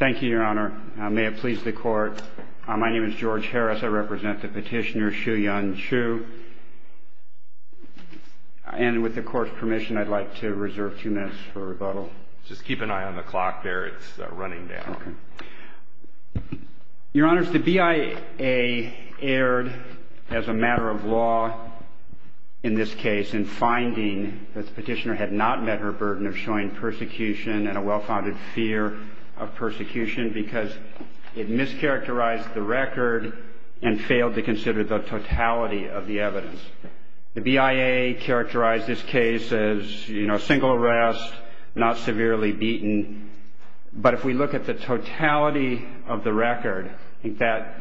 Thank you, your honor. May it please the court. My name is George Harris. I represent the petitioner, Shu-Yun Chu. And with the court's permission, I'd like to reserve two minutes for rebuttal. Just keep an eye on the clock there. It's running down. Your honors, the BIA erred as a matter of law in this case in finding that the petitioner had not met her burden of showing persecution and a well-founded fear of persecution because it mischaracterized the record and failed to consider the totality of the evidence. The BIA characterized this case as, you know, single arrest, not severely beaten. But if we look at the totality of the record, that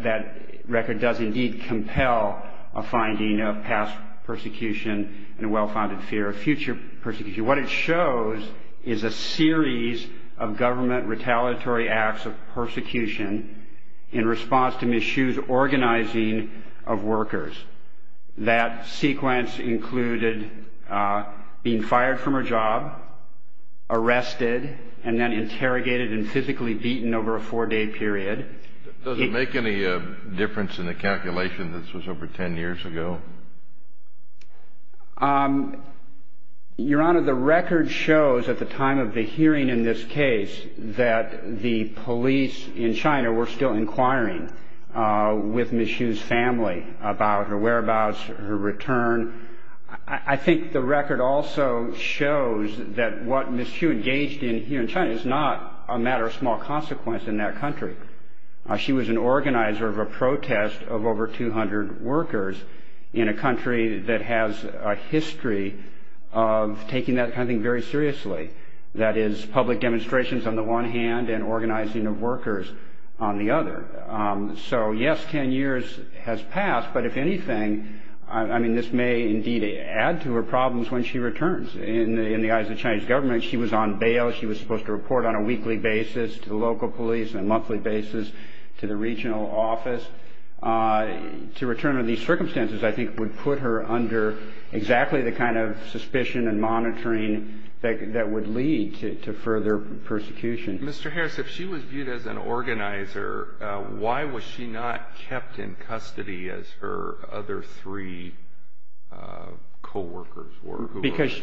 record does indeed compel a finding of past persecution and a well-founded fear of future persecution. What it shows is a series of government retaliatory acts of persecution in response to Ms. Shu's organizing of workers. That sequence included being fired from her job, arrested, and then interrogated and physically beaten over a four-day period. Does it make any difference in the calculation that this was over ten years ago? Your honor, the record shows at the time of the hearing in this case that the police in China were still inquiring with Ms. Shu's family about her whereabouts, her return. I think the record also shows that what Ms. Shu engaged in here in China is not a matter of small consequence in that country. She was an organizer of a protest of over 200 workers in a country that has a history of taking that kind of thing very seriously. That is, public demonstrations on the one hand and organizing of workers on the other. So, yes, ten years has passed, but if anything, I mean, this may indeed add to her problems when she returns. In the eyes of the Chinese government, she was on bail. She was supposed to report on a weekly basis to local police and a monthly basis to the regional office. To return under these circumstances, I think, would put her under exactly the kind of suspicion and monitoring that would lead to further persecution. Mr. Harris, if she was viewed as an organizer, why was she not kept in custody as her other three co-workers were? Because,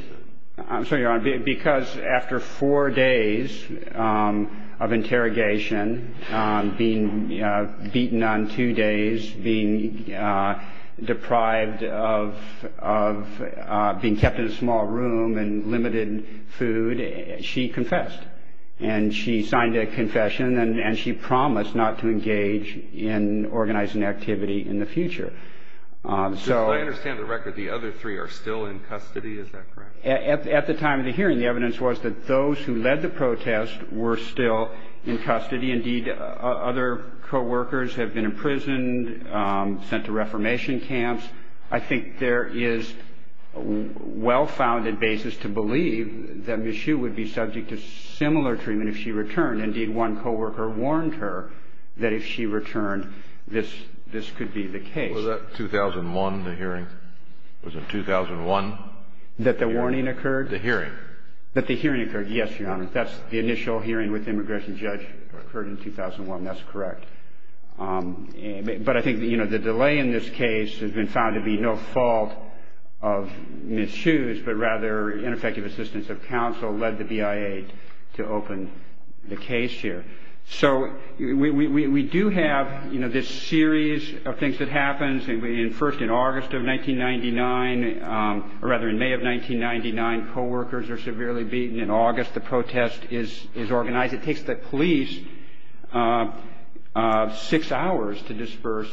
I'm sorry, Your Honor, because after four days of interrogation, being beaten on two days, being deprived of being kept in a small room and limited food, she confessed. And she signed a confession and she promised not to engage in organizing activity in the future. I understand the record, the other three are still in custody, is that correct? At the time of the hearing, the evidence was that those who led the protest were still in custody. Indeed, other co-workers have been imprisoned, sent to reformation camps. I think there is a well-founded basis to believe that Ms. Xu would be subject to similar treatment if she returned. Indeed, one co-worker warned her that if she returned, this could be the case. Was that 2001, the hearing? Was it 2001? That the warning occurred? The hearing. That the hearing occurred, yes, Your Honor. That's the initial hearing with the immigration judge occurred in 2001, that's correct. But I think the delay in this case has been found to be no fault of Ms. Xu's, but rather ineffective assistance of counsel led the BIA to open the case here. So we do have this series of things that happens. First, in August of 1999, or rather in May of 1999, co-workers are severely beaten. In August, the protest is organized. It takes the police six hours to disperse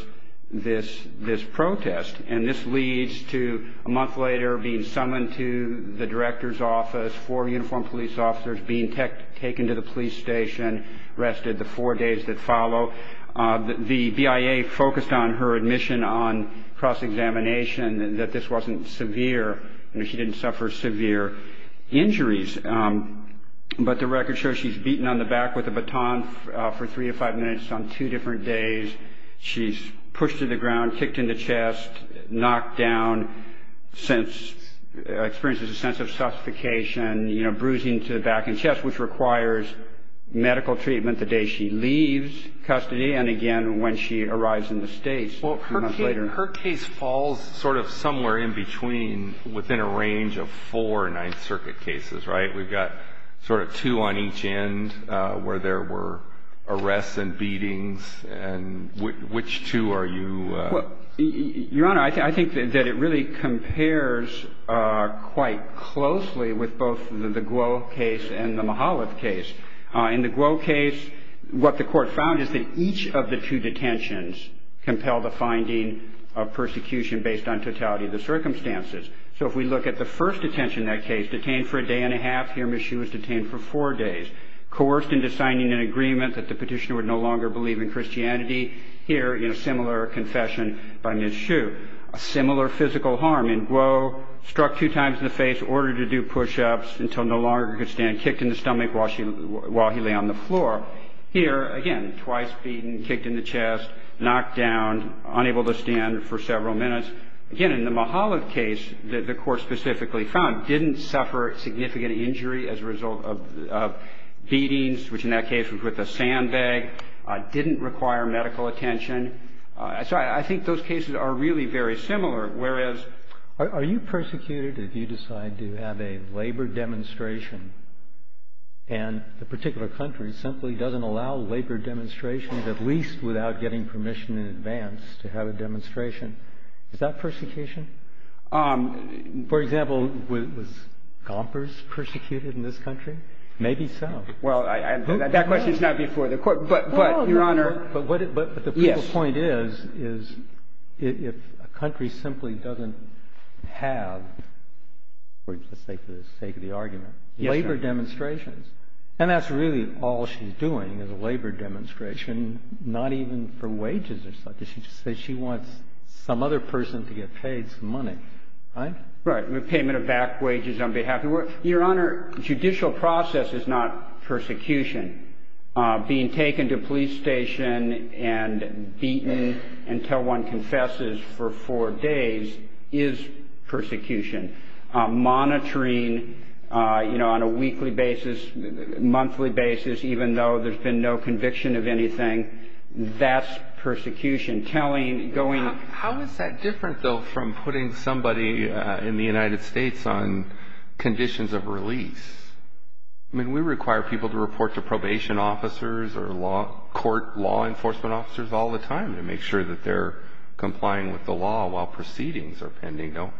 this protest, and this leads to a month later being summoned to the director's office, four uniformed police officers being taken to the police station, arrested, the four days that follow. The BIA focused on her admission on cross-examination, that this wasn't severe, that she didn't suffer severe injuries. But the record shows she's beaten on the back with a baton for three or five minutes on two different days. She's pushed to the ground, kicked in the chest, knocked down, experiences a sense of suffocation, bruising to the back and chest, which requires medical treatment the day she leaves custody, and again when she arrives in the States a few months later. Her case falls sort of somewhere in between, within a range of four Ninth Circuit cases, right? We've got sort of two on each end where there were arrests and beatings, and which two are you... Well, Your Honor, I think that it really compares quite closely with both the Guo case and the Mihaljev case. In the Guo case, what the court found is that each of the two detentions compel the finding of persecution based on totality of the circumstances. So if we look at the first detention in that case, detained for a day and a half, here Ms. Hsu was detained for four days, coerced into signing an agreement that the petitioner would no longer believe in Christianity, here in a similar confession by Ms. Hsu. A similar physical harm in Guo, struck two times in the face, ordered to do push-ups until no longer could stand, kicked in the stomach while he lay on the floor. Here, again, twice beaten, kicked in the chest, knocked down, unable to stand for several minutes. Again, in the Mihaljev case, the court specifically found didn't suffer significant injury as a result of beatings, which in that case was with a sandbag, didn't require medical attention. So I think those cases are really very similar, whereas... Are you persecuted if you decide to have a labor demonstration and the particular country simply doesn't allow labor demonstrations, is that persecution? For example, was Gompers persecuted in this country? Maybe so. Well, that question is not before the Court, but Your Honor... But the point is, is if a country simply doesn't have, let's say for the sake of the argument, labor demonstrations, and that's really all she's doing is a labor demonstration, not even for wages or such. She just says she wants some other person to get paid some money, right? Right. Payment of back wages on behalf of... Your Honor, judicial process is not persecution. Being taken to a police station and beaten until one confesses for four days is persecution. Monitoring, you know, on a weekly basis, monthly basis, even though there's been no conviction of anything, that's persecution, telling, going... How is that different, though, from putting somebody in the United States on conditions of release? I mean, we require people to report to probation officers or court law enforcement officers all the time to make sure that they're complying with the law while proceedings are pending, don't we?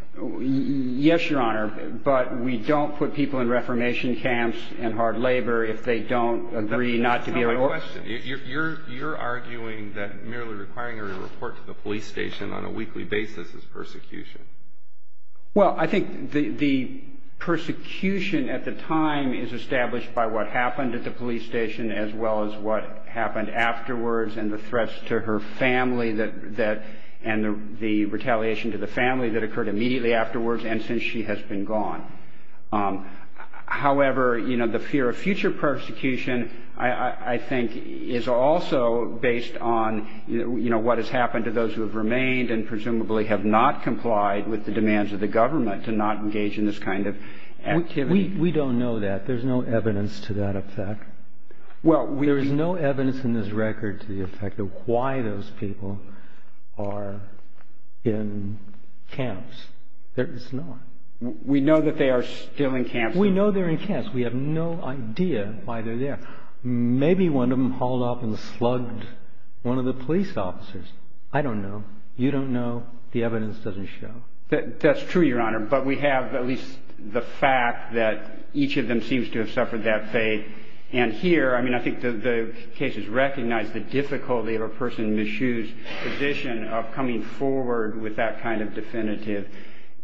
Yes, Your Honor, but we don't put people in reformation camps and hard labor if they don't agree not to be... I have a question. You're arguing that merely requiring her to report to the police station on a weekly basis is persecution. Well, I think the persecution at the time is established by what happened at the police station as well as what happened afterwards and the threats to her family and the retaliation to the family that occurred immediately afterwards and since she has been gone. However, the fear of future persecution, I think, is also based on what has happened to those who have remained and presumably have not complied with the demands of the government to not engage in this kind of activity. We don't know that. There's no evidence to that effect. There is no evidence in this record to the effect of why those people are in camps. There is none. We know that they are still in camps. We know they're in camps. We have no idea why they're there. Maybe one of them hauled off and slugged one of the police officers. I don't know. You don't know. The evidence doesn't show. That's true, Your Honor, but we have at least the fact that each of them seems to have suffered that fate. And here, I mean, I think the case has recognized the difficulty of a person in Ms. Hsu's position of coming forward with that kind of definitive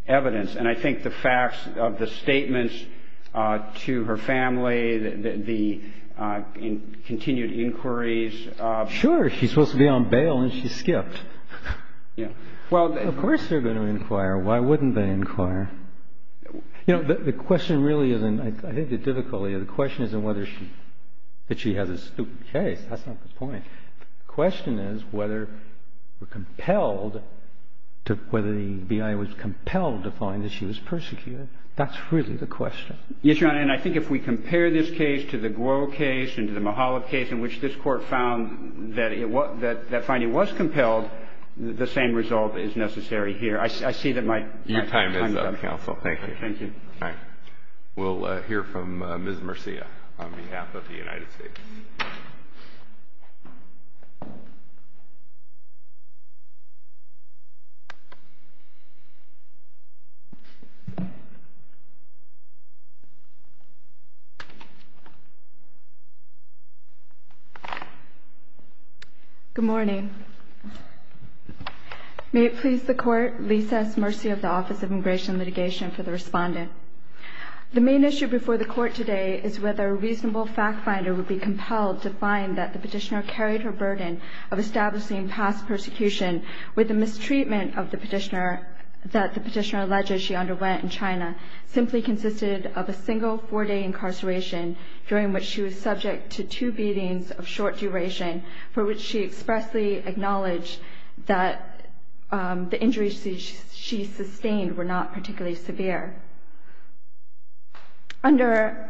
evidence. And I think the facts of the statements to her family, the continued inquiries. Sure. She's supposed to be on bail, and she skipped. Well, of course they're going to inquire. Why wouldn't they inquire? You know, the question really isn't the difficulty. The question isn't whether she has a stupid case. That's not the point. The question is whether we're compelled, whether the BIA was compelled to find that she was persecuted. That's really the question. Yes, Your Honor. And I think if we compare this case to the Guo case and to the Mihalov case in which this Court found that that finding was compelled, the same result is necessary here. I see that my time is up. Your time is up, counsel. Thank you. Thank you. All right. We'll hear from Ms. Murcia on behalf of the United States. Good morning. May it please the Court, lease us mercy of the Office of Immigration Litigation for the respondent. The main issue before the Court today is whether a reasonable fact finder would be compelled to find that the petitioner carried her burden of establishing past persecution with the mistreatment that the petitioner alleged she underwent in China simply consisted of a single four-day incarceration during which she was subject to two beatings of short duration for which she expressly acknowledged that the injuries she sustained were not particularly severe. Under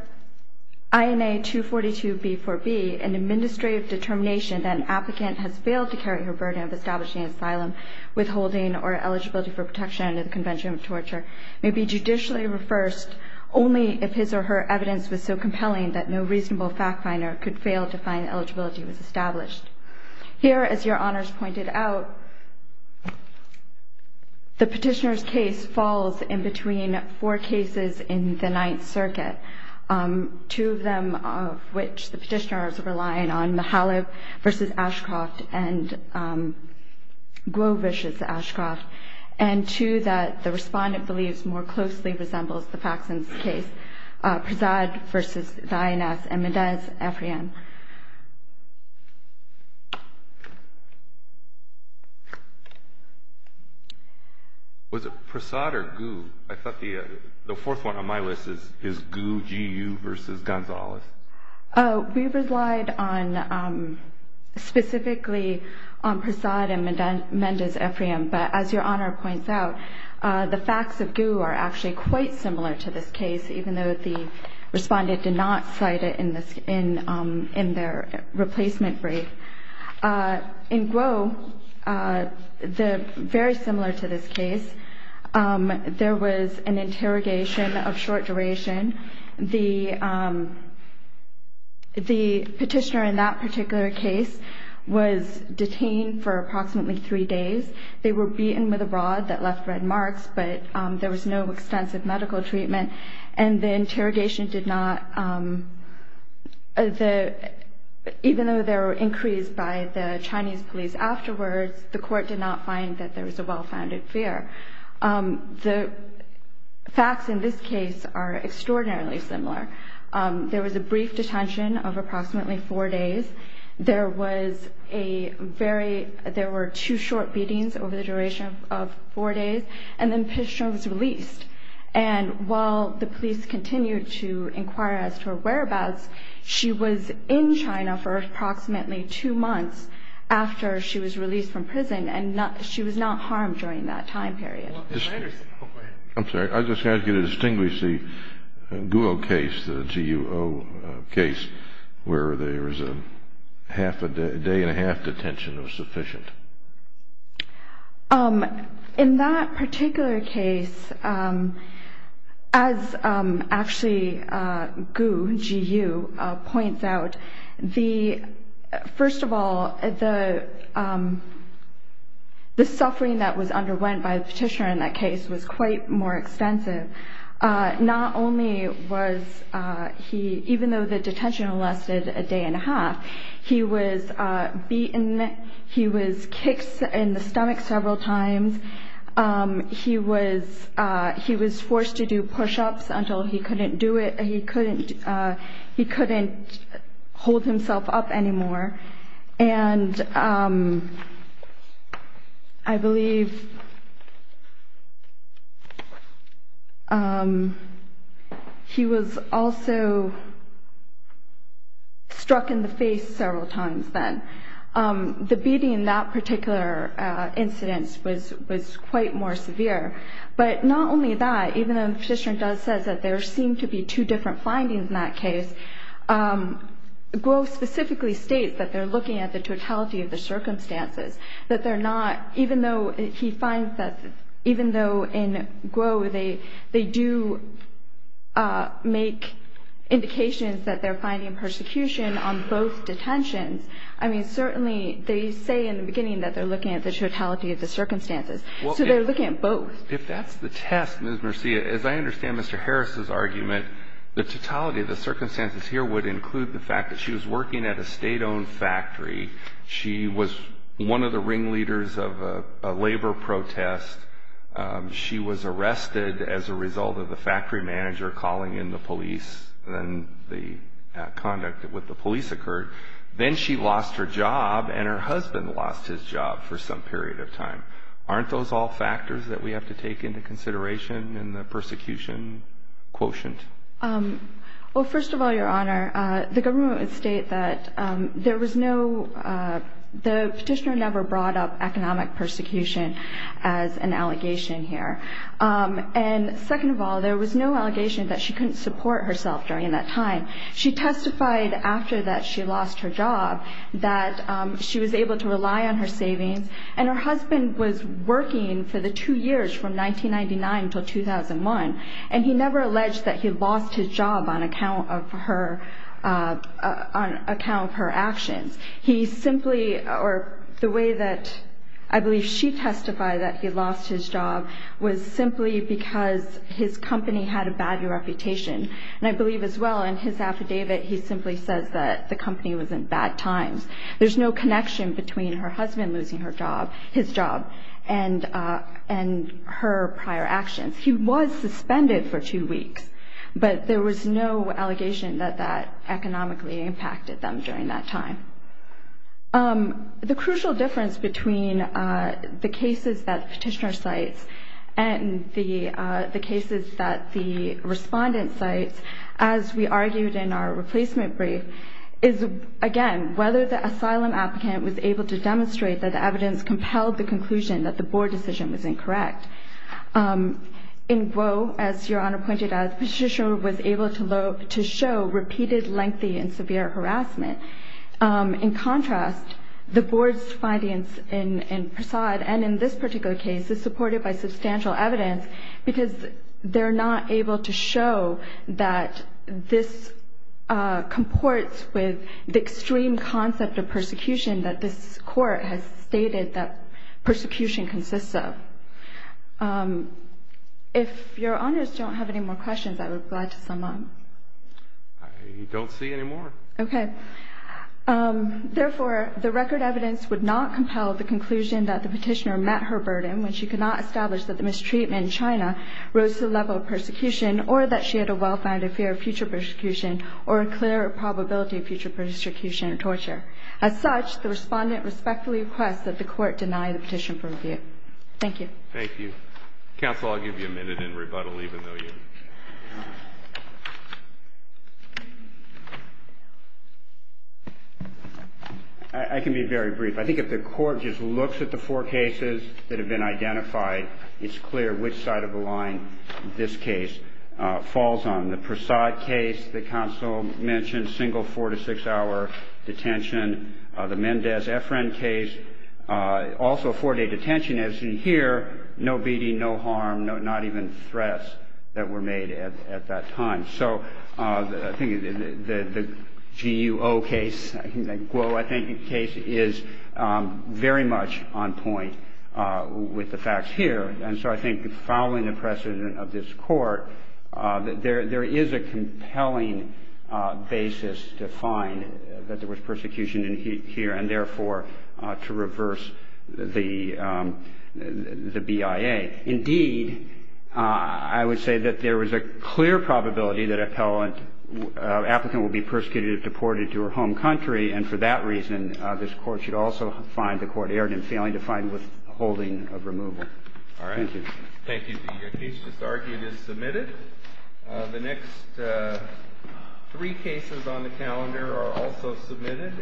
INA 242b4b, an administrative determination that an applicant has failed to carry her burden of establishing asylum, withholding, or eligibility for protection under the Convention of Torture, may be judicially reversed only if his or her evidence was so compelling that no reasonable fact finder could fail to find that eligibility was established. Here, as Your Honors pointed out, the petitioner's case falls in between four cases in the Ninth Circuit, two of them of which the petitioner is relying on, the Halib v. Ashcroft and Globish v. Ashcroft, and two that the respondent believes more closely resembles the Faxon's case, Prasad v. Dainath and Mendez-Efriam. Was it Prasad or Gu? I thought the fourth one on my list is Gu versus Gonzalez. We relied specifically on Prasad and Mendez-Efriam, but as Your Honor points out, the facts of Gu are actually quite similar to this case, even though the respondent did not cite it in their replacement brief. In Glo, very similar to this case, there was an interrogation of short duration. The petitioner in that particular case was detained for approximately three days. They were beaten with a rod that left red marks, but there was no extensive medical treatment, and the interrogation did not, even though there were inquiries by the Chinese police afterwards, the court did not find that there was a well-founded fear. The facts in this case are extraordinarily similar. There was a brief detention of approximately four days. There were two short beatings over the duration of four days, and the petitioner was released. And while the police continued to inquire as to her whereabouts, she was in China for approximately two months after she was released from prison, and she was not harmed during that time period. I'm sorry. I just asked you to distinguish the Guo case, the G-U-O case, where there was a day and a half detention was sufficient. In that particular case, as actually Guo, G-U, points out, first of all, the suffering that was underwent by the petitioner in that case was quite more extensive. Not only was he, even though the detention lasted a day and a half, he was beaten, he was kicked in the stomach several times, he was forced to do push-ups until he couldn't do it, he couldn't hold himself up anymore, and I believe he was also struck in the face several times then. The beating in that particular incident was quite more severe. But not only that, even though the petitioner does say that there seem to be two different findings in that case, Guo specifically states that they're looking at the totality of the circumstances, that they're not, even though he finds that, even though in Guo they do make indications that they're finding persecution on both detentions. I mean, certainly they say in the beginning that they're looking at the totality of the circumstances. So they're looking at both. If that's the test, Ms. Murcia, as I understand Mr. Harris's argument, the totality of the circumstances here would include the fact that she was working at a state-owned factory, she was one of the ringleaders of a labor protest, she was arrested as a result of the factory manager calling in the police, then the conduct with the police occurred, then she lost her job and her husband lost his job for some period of time. Aren't those all factors that we have to take into consideration in the persecution quotient? Well, first of all, Your Honor, the government would state that there was no, the petitioner never brought up economic persecution as an allegation here. And second of all, there was no allegation that she couldn't support herself during that time. She testified after that she lost her job that she was able to rely on her savings, and her husband was working for the two years from 1999 until 2001, and he never alleged that he lost his job on account of her actions. He simply, or the way that I believe she testified that he lost his job was simply because his company had a bad reputation, and I believe as well in his affidavit he simply says that the company was in bad times. There's no connection between her husband losing his job and her prior actions. He was suspended for two weeks, but there was no allegation that that economically impacted them during that time. The crucial difference between the cases that the petitioner cites and the cases that the respondent cites, as we argued in our replacement brief, is again whether the asylum applicant was able to demonstrate that the evidence compelled the conclusion that the board decision was incorrect. In Gros, as Your Honor pointed out, the petitioner was able to show repeated lengthy and severe harassment. In contrast, the board's findings in Prasad and in this particular case is supported by substantial evidence because they're not able to show that this comports with the extreme concept of persecution that this court has stated that persecution consists of. If Your Honors don't have any more questions, I would be glad to sum up. I don't see any more. Okay. Therefore, the record evidence would not compel the conclusion that the petitioner met her burden when she could not establish that the mistreatment in China rose to the level of persecution or that she had a well-founded fear of future persecution or a clear probability of future persecution and torture. As such, the respondent respectfully requests that the court deny the petition for review. Thank you. Thank you. Counsel, I'll give you a minute in rebuttal, even though you... I can be very brief. I think if the court just looks at the four cases that have been identified, it's clear which side of the line this case falls on. The Prasad case that Counsel mentioned, single four- to six-hour detention. The Mendez-Efren case, also a four-day detention. As you hear, no beating, no harm, not even threats that were made at that time. So I think the Guo case is very much on point with the facts here. And so I think following the precedent of this court, there is a compelling basis to find that there was persecution here and, therefore, to reverse the BIA. Indeed, I would say that there was a clear probability that an applicant would be persecuted or deported to her home country, and for that reason, this court should also find the court errant in failing to find withholding of removal. All right. Thank you. Thank you. Your case just argued is submitted. The next three cases on the calendar are also submitted.